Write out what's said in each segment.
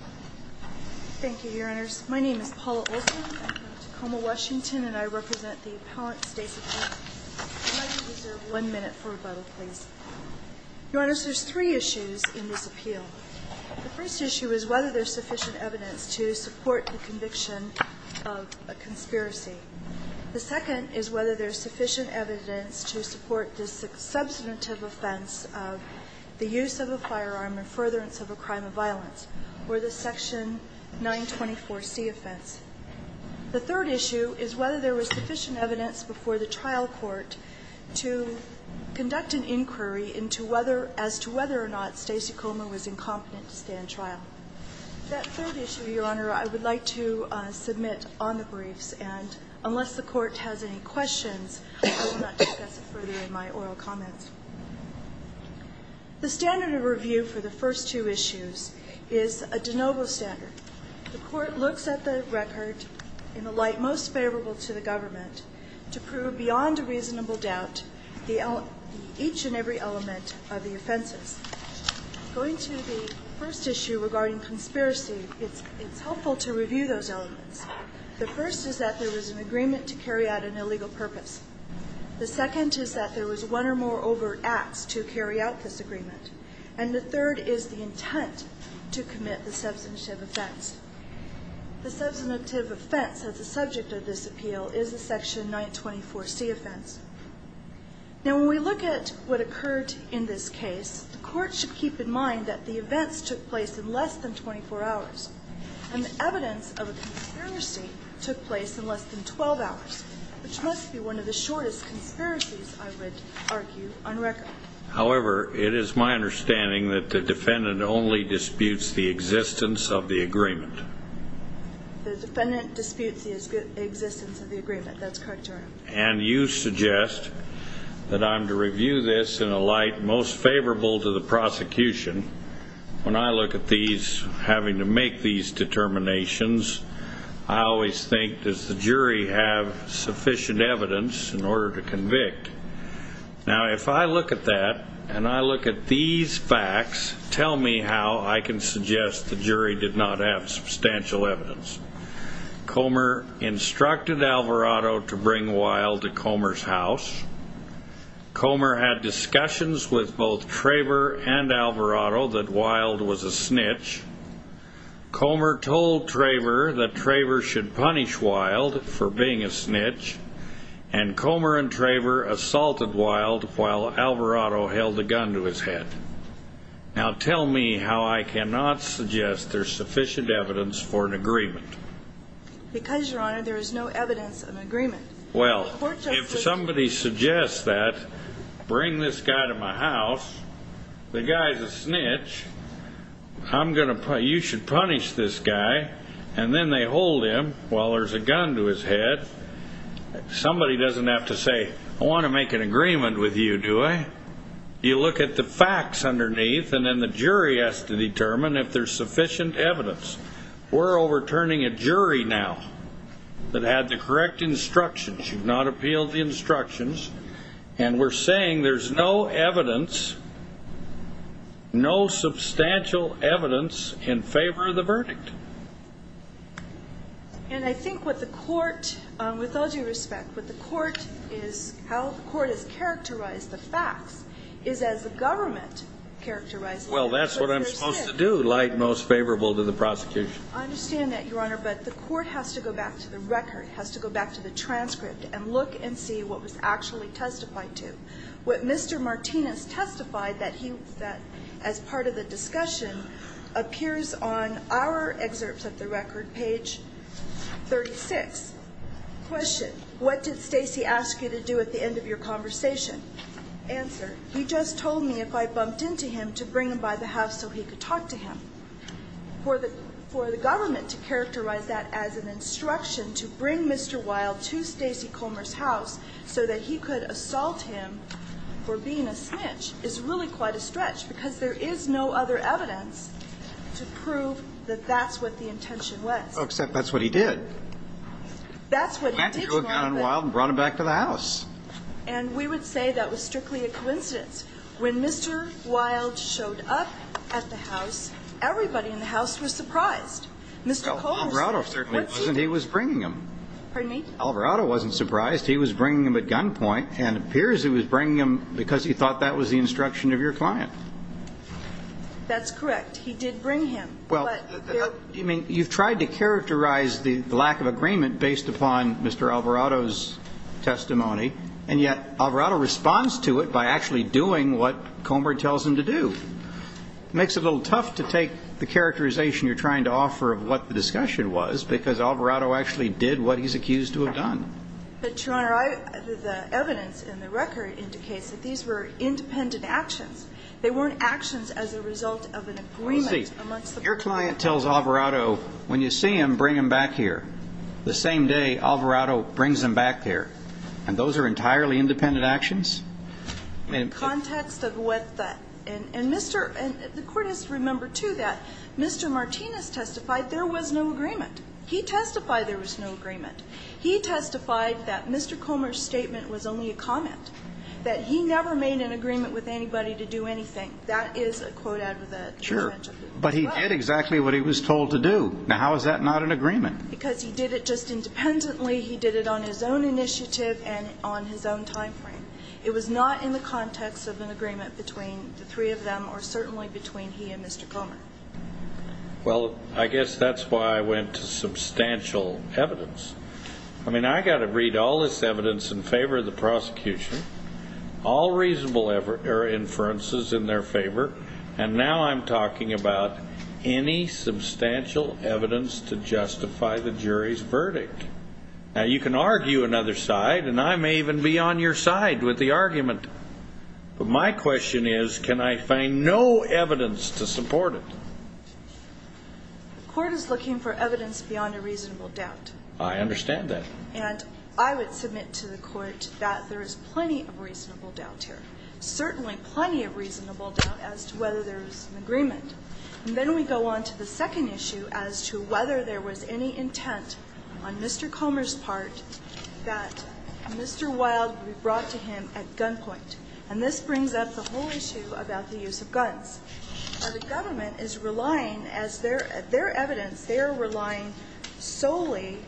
Thank you, your honors. My name is Paula Olson. I'm from Tacoma, Washington, and I represent the Appellant's State's Appeal. You might be reserved one minute for rebuttal, please. Your honors, there's three issues in this appeal. The first issue is whether there's sufficient evidence to support the conviction of a conspiracy. The second is whether there's sufficient evidence to support the substantive offense of the use of a firearm in furtherance of a crime of violence. Or the Section 924C offense. The third issue is whether there was sufficient evidence before the trial court to conduct an inquiry as to whether or not Stacey Comer was incompetent to stand trial. That third issue, your honor, I would like to submit on the briefs. And unless the court has any questions, I will not discuss it further in my oral comments. The standard of review for the first two issues is a de novo standard. The court looks at the record in the light most favorable to the government to prove beyond a reasonable doubt each and every element of the offenses. Going to the first issue regarding conspiracy, it's helpful to review those elements. The first is that there was an agreement to carry out an illegal purpose. The second is that there was one or more overt acts to carry out this agreement. And the third is the intent to commit the substantive offense. The substantive offense as a subject of this appeal is the Section 924C offense. Now when we look at what occurred in this case, the court should keep in mind that the events took place in less than 24 hours. And the evidence of a conspiracy took place in less than 12 hours, which must be one of the shortest conspiracies, I would argue, on record. However, it is my understanding that the defendant only disputes the existence of the agreement. The defendant disputes the existence of the agreement. That's correct, your honor. And you suggest that I'm to review this in a light most favorable to the prosecution. When I look at these, having to make these determinations, I always think, does the jury have sufficient evidence in order to convict? Now if I look at that, and I look at these facts, tell me how I can suggest the jury did not have substantial evidence. Comer instructed Alvarado to bring Wylde to Comer's house. Comer had discussions with both Traver and Alvarado that Wylde was a snitch. Comer told Traver that Traver should punish Wylde for being a snitch. And Comer and Traver assaulted Wylde while Alvarado held a gun to his head. Now tell me how I cannot suggest there's sufficient evidence for an agreement. Because, your honor, there is no evidence of an agreement. Well, if somebody suggests that, bring this guy to my house, the guy's a snitch, you should punish this guy, and then they hold him while there's a gun to his head, somebody doesn't have to say, I want to make an agreement with you, do I? You look at the facts underneath, and then the jury has to determine if there's sufficient evidence. We're overturning a jury now that had the correct instructions. You've not appealed the instructions, and we're saying there's no evidence, no substantial evidence in favor of the verdict. And I think what the court, with all due respect, what the court is, how the court has characterized the facts, is as the government characterized the facts. Well, that's what I'm supposed to do, lie most favorable to the prosecution. I understand that, your honor, but the court has to go back to the record, has to go back to the transcript, and look and see what was actually testified to. What Mr. Martinez testified that he, as part of the discussion, appears on our excerpts of the record, page 36. Question, what did Stacey ask you to do at the end of your conversation? Answer, he just told me if I bumped into him to bring him by the house so he could talk to him. For the government to characterize that as an instruction to bring Mr. Wilde to Stacey Comer's house so that he could assault him for being a snitch is really quite a stretch, because there is no other evidence to prove that that's what the intention was. Well, except that's what he did. That's what he did to Wilde. He went to Wilde and brought him back to the house. And we would say that was strictly a coincidence. When Mr. Wilde showed up at the house, everybody in the house was surprised. Well, Alvarado certainly wasn't. He was bringing him. Pardon me? Alvarado wasn't surprised. He was bringing him at gunpoint and appears he was bringing him because he thought that was the instruction of your client. That's correct. He did bring him. Well, you've tried to characterize the lack of agreement based upon Mr. Alvarado's testimony, and yet Alvarado responds to it by actually doing what Comer tells him to do. It makes it a little tough to take the characterization you're trying to offer of what the discussion was, because Alvarado actually did what he's accused to have done. But, Your Honor, the evidence in the record indicates that these were independent actions. They weren't actions as a result of an agreement amongst the parties. Well, see, your client tells Alvarado, when you see him, bring him back here. The same day, Alvarado brings him back here. And those are entirely independent actions? In the context of what the ñ and Mr. ñ and the Court has to remember, too, that Mr. Martinez testified there was no agreement. He testified there was no agreement. He testified that Mr. Comer's statement was only a comment, that he never made an agreement with anybody to do anything. That is a quote out of the presentation. Sure. But he did exactly what he was told to do. Now, how is that not an agreement? Because he did it just independently. He did it on his own initiative and on his own timeframe. It was not in the context of an agreement between the three of them or certainly between he and Mr. Comer. Well, I guess that's why I went to substantial evidence. I mean, I got to read all this evidence in favor of the prosecution, all reasonable inferences in their favor, and now I'm talking about any substantial evidence to justify the jury's verdict. Now, you can argue another side, and I may even be on your side with the argument. But my question is, can I find no evidence to support it? The Court is looking for evidence beyond a reasonable doubt. I understand that. And I would submit to the Court that there is plenty of reasonable doubt here, certainly plenty of reasonable doubt as to whether there's an agreement. And then we go on to the second issue as to whether there was any intent on Mr. Comer's part that Mr. Wilde be brought to him at gunpoint. And this brings up the whole issue about the use of guns. Now, the government is relying, as their evidence, they are relying solely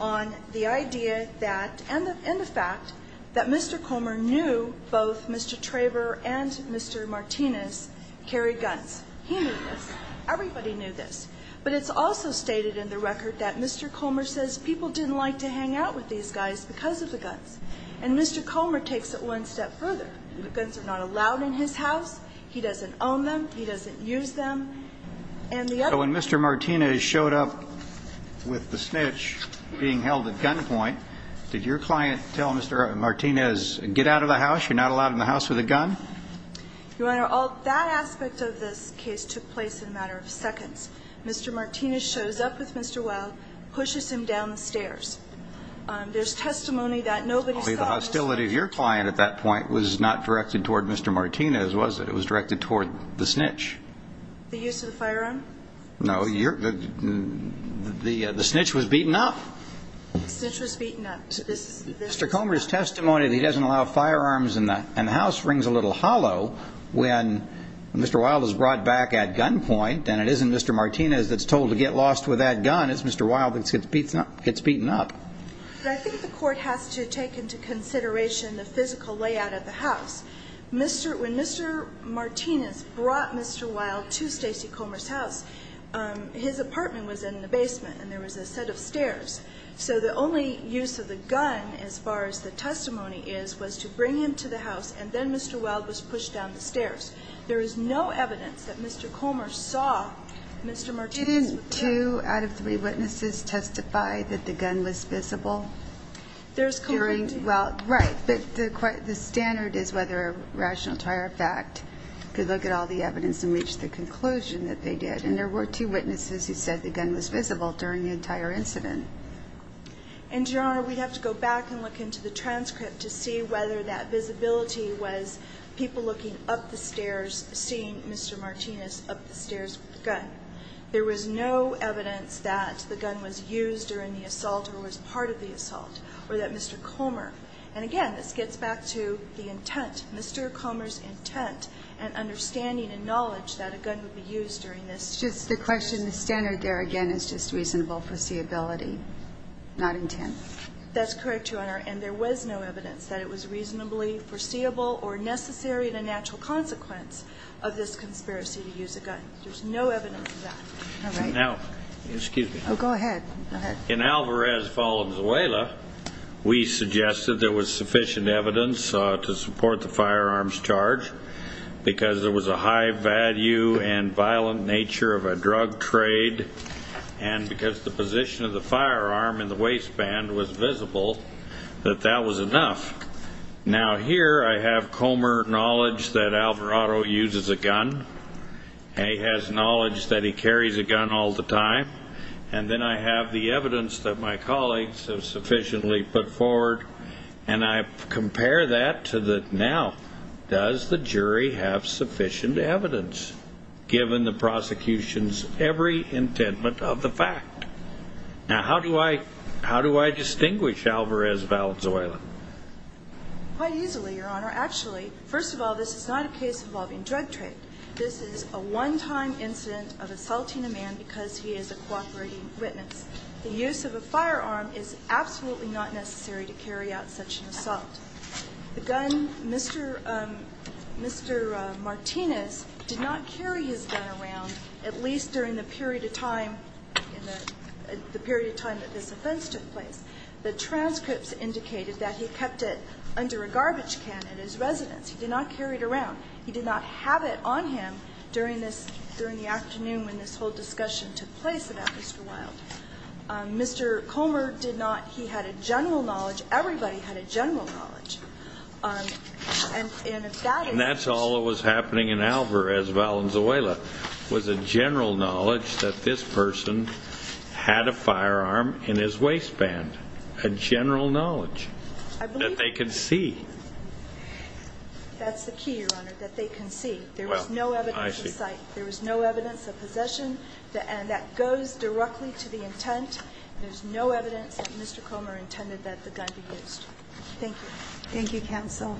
on the idea that and the fact that Mr. Comer knew both Mr. Traber and Mr. Martinez carried guns. He knew this. Everybody knew this. But it's also stated in the record that Mr. Comer says people didn't like to hang out with these guys because of the guns. And Mr. Comer takes it one step further. The guns are not allowed in his house. He doesn't own them. He doesn't use them. And the other one. Did your client tell Mr. Martinez, get out of the house? You're not allowed in the house with a gun? Your Honor, that aspect of this case took place in a matter of seconds. Mr. Martinez shows up with Mr. Wilde, pushes him down the stairs. There's testimony that nobody saw. The hostility of your client at that point was not directed toward Mr. Martinez, was it? It was directed toward the snitch. The use of the firearm? No, the snitch was beaten up. Snitch was beaten up. Mr. Comer's testimony that he doesn't allow firearms in the house rings a little hollow when Mr. Wilde is brought back at gunpoint and it isn't Mr. Martinez that's told to get lost with that gun. It's Mr. Wilde that gets beaten up. But I think the court has to take into consideration the physical layout of the house. When Mr. Martinez brought Mr. Wilde to Stacey Comer's house, his apartment was in the basement and there was a set of stairs. So the only use of the gun, as far as the testimony is, was to bring him to the house, and then Mr. Wilde was pushed down the stairs. There is no evidence that Mr. Comer saw Mr. Martinez with the gun. Didn't two out of three witnesses testify that the gun was visible? There's clearly two. Well, right, but the standard is whether rational to our fact to look at all the evidence and reach the conclusion that they did. And there were two witnesses who said the gun was visible during the entire incident. And, Your Honor, we'd have to go back and look into the transcript to see whether that visibility was people looking up the stairs, seeing Mr. Martinez up the stairs with the gun. There was no evidence that the gun was used during the assault or was part of the assault, or that Mr. Comer. And, again, this gets back to the intent, Mr. Comer's intent and understanding and knowledge that a gun would be used during this. Just the question, the standard there again is just reasonable foreseeability, not intent. That's correct, Your Honor, and there was no evidence that it was reasonably foreseeable or necessary in a natural consequence of this conspiracy to use a gun. There's no evidence of that. All right. Now, excuse me. Oh, go ahead. Go ahead. In Alvarez-Falenzuela, we suggested there was sufficient evidence to support the firearms charge because there was a high value and violent nature of a drug trade. And because the position of the firearm in the waistband was visible, that that was enough. Now, here I have Comer knowledge that Alvarado uses a gun. He has knowledge that he carries a gun all the time. And then I have the evidence that my colleagues have sufficiently put forward, and I compare that to the now. Does the jury have sufficient evidence, given the prosecution's every intentment of the fact? Now, how do I distinguish Alvarez-Falenzuela? Quite easily, Your Honor. Actually, first of all, this is not a case involving drug trade. This is a one-time incident of assaulting a man because he is a cooperating witness. The use of a firearm is absolutely not necessary to carry out such an assault. The gun, Mr. Martinez did not carry his gun around, at least during the period of time, the period of time that this offense took place. The transcripts indicated that he kept it under a garbage can at his residence. He did not carry it around. He did not have it on him during the afternoon when this whole discussion took place about Mr. Wilde. Mr. Comer did not. He had a general knowledge. Everybody had a general knowledge. And if that is true. And that's all that was happening in Alvarez-Falenzuela was a general knowledge that this person had a firearm in his waistband, a general knowledge that they could see. That's the key, Your Honor, that they can see. There was no evidence of sight. There was no evidence of possession. And that goes directly to the intent. There's no evidence that Mr. Comer intended that the gun be used. Thank you. Thank you, counsel.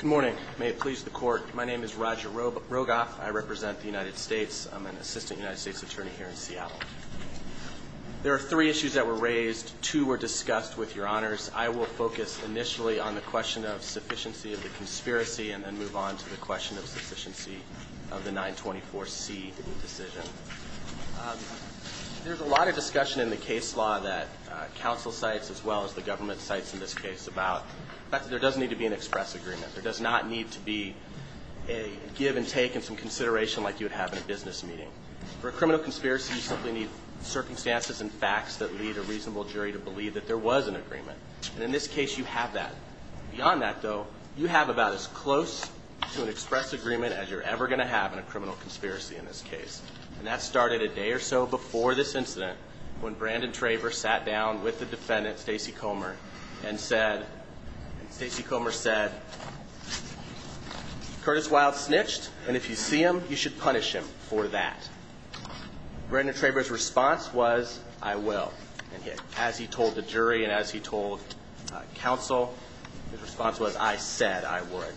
Good morning. May it please the Court. My name is Roger Rogoff. I represent the United States. I'm an assistant United States attorney here in Seattle. There are three issues that were raised. Two were discussed with Your Honors. I will focus initially on the question of sufficiency of the conspiracy and then move on to the question of sufficiency of the 924C decision. There's a lot of discussion in the case law that counsel cites as well as the government cites in this case about the fact that there does need to be an express agreement. There does not need to be a give and take and some consideration like you would have in a business meeting. For a criminal conspiracy, you simply need circumstances and facts that lead a reasonable jury to believe that there was an agreement. And in this case, you have that. Beyond that, though, you have about as close to an express agreement as you're ever going to have in a criminal conspiracy in this case. And that started a day or so before this incident when Brandon Traver sat down with the defendant, Stacy Comer, and Stacy Comer said, Curtis Wild snitched, and if you see him, you should punish him for that. Brandon Traver's response was, I will. And as he told the jury and as he told counsel, his response was, I said I would.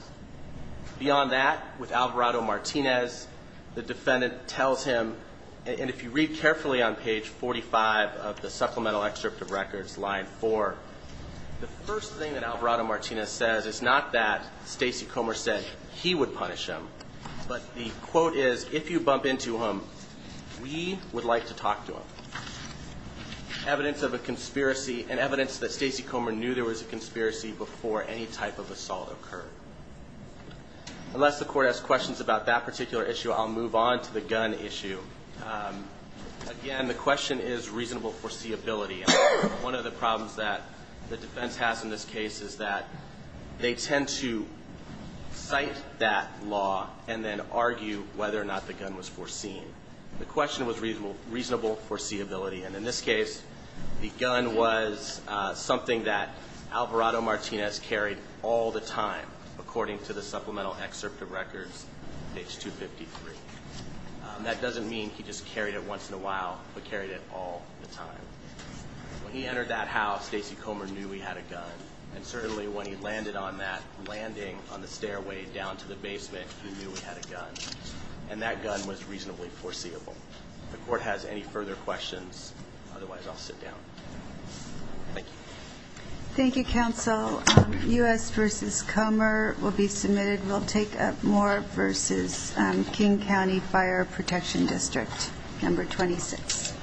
Beyond that, with Alvarado Martinez, the defendant tells him, and if you read carefully on page 45 of the supplemental excerpt of records, line 4, the first thing that Alvarado Martinez says is not that Stacy Comer said he would punish him, but the quote is, if you bump into him, we would like to talk to him. Evidence of a conspiracy and evidence that Stacy Comer knew there was a conspiracy before any type of assault occurred. Unless the court has questions about that particular issue, I'll move on to the gun issue. Again, the question is reasonable foreseeability. One of the problems that the defense has in this case is that they tend to cite that law and then argue whether or not the gun was foreseen. The question was reasonable foreseeability, and in this case, the gun was something that Alvarado Martinez carried all the time, according to the supplemental excerpt of records, page 253. That doesn't mean he just carried it once in a while, but carried it all the time. When he entered that house, Stacy Comer knew he had a gun, and certainly when he landed on that landing on the stairway down to the basement, he knew he had a gun. And that gun was reasonably foreseeable. If the court has any further questions, otherwise I'll sit down. Thank you. Thank you, counsel. U.S. v. Comer will be submitted. We'll take up Moore v. King County Fire Protection District, number 26. Thank you.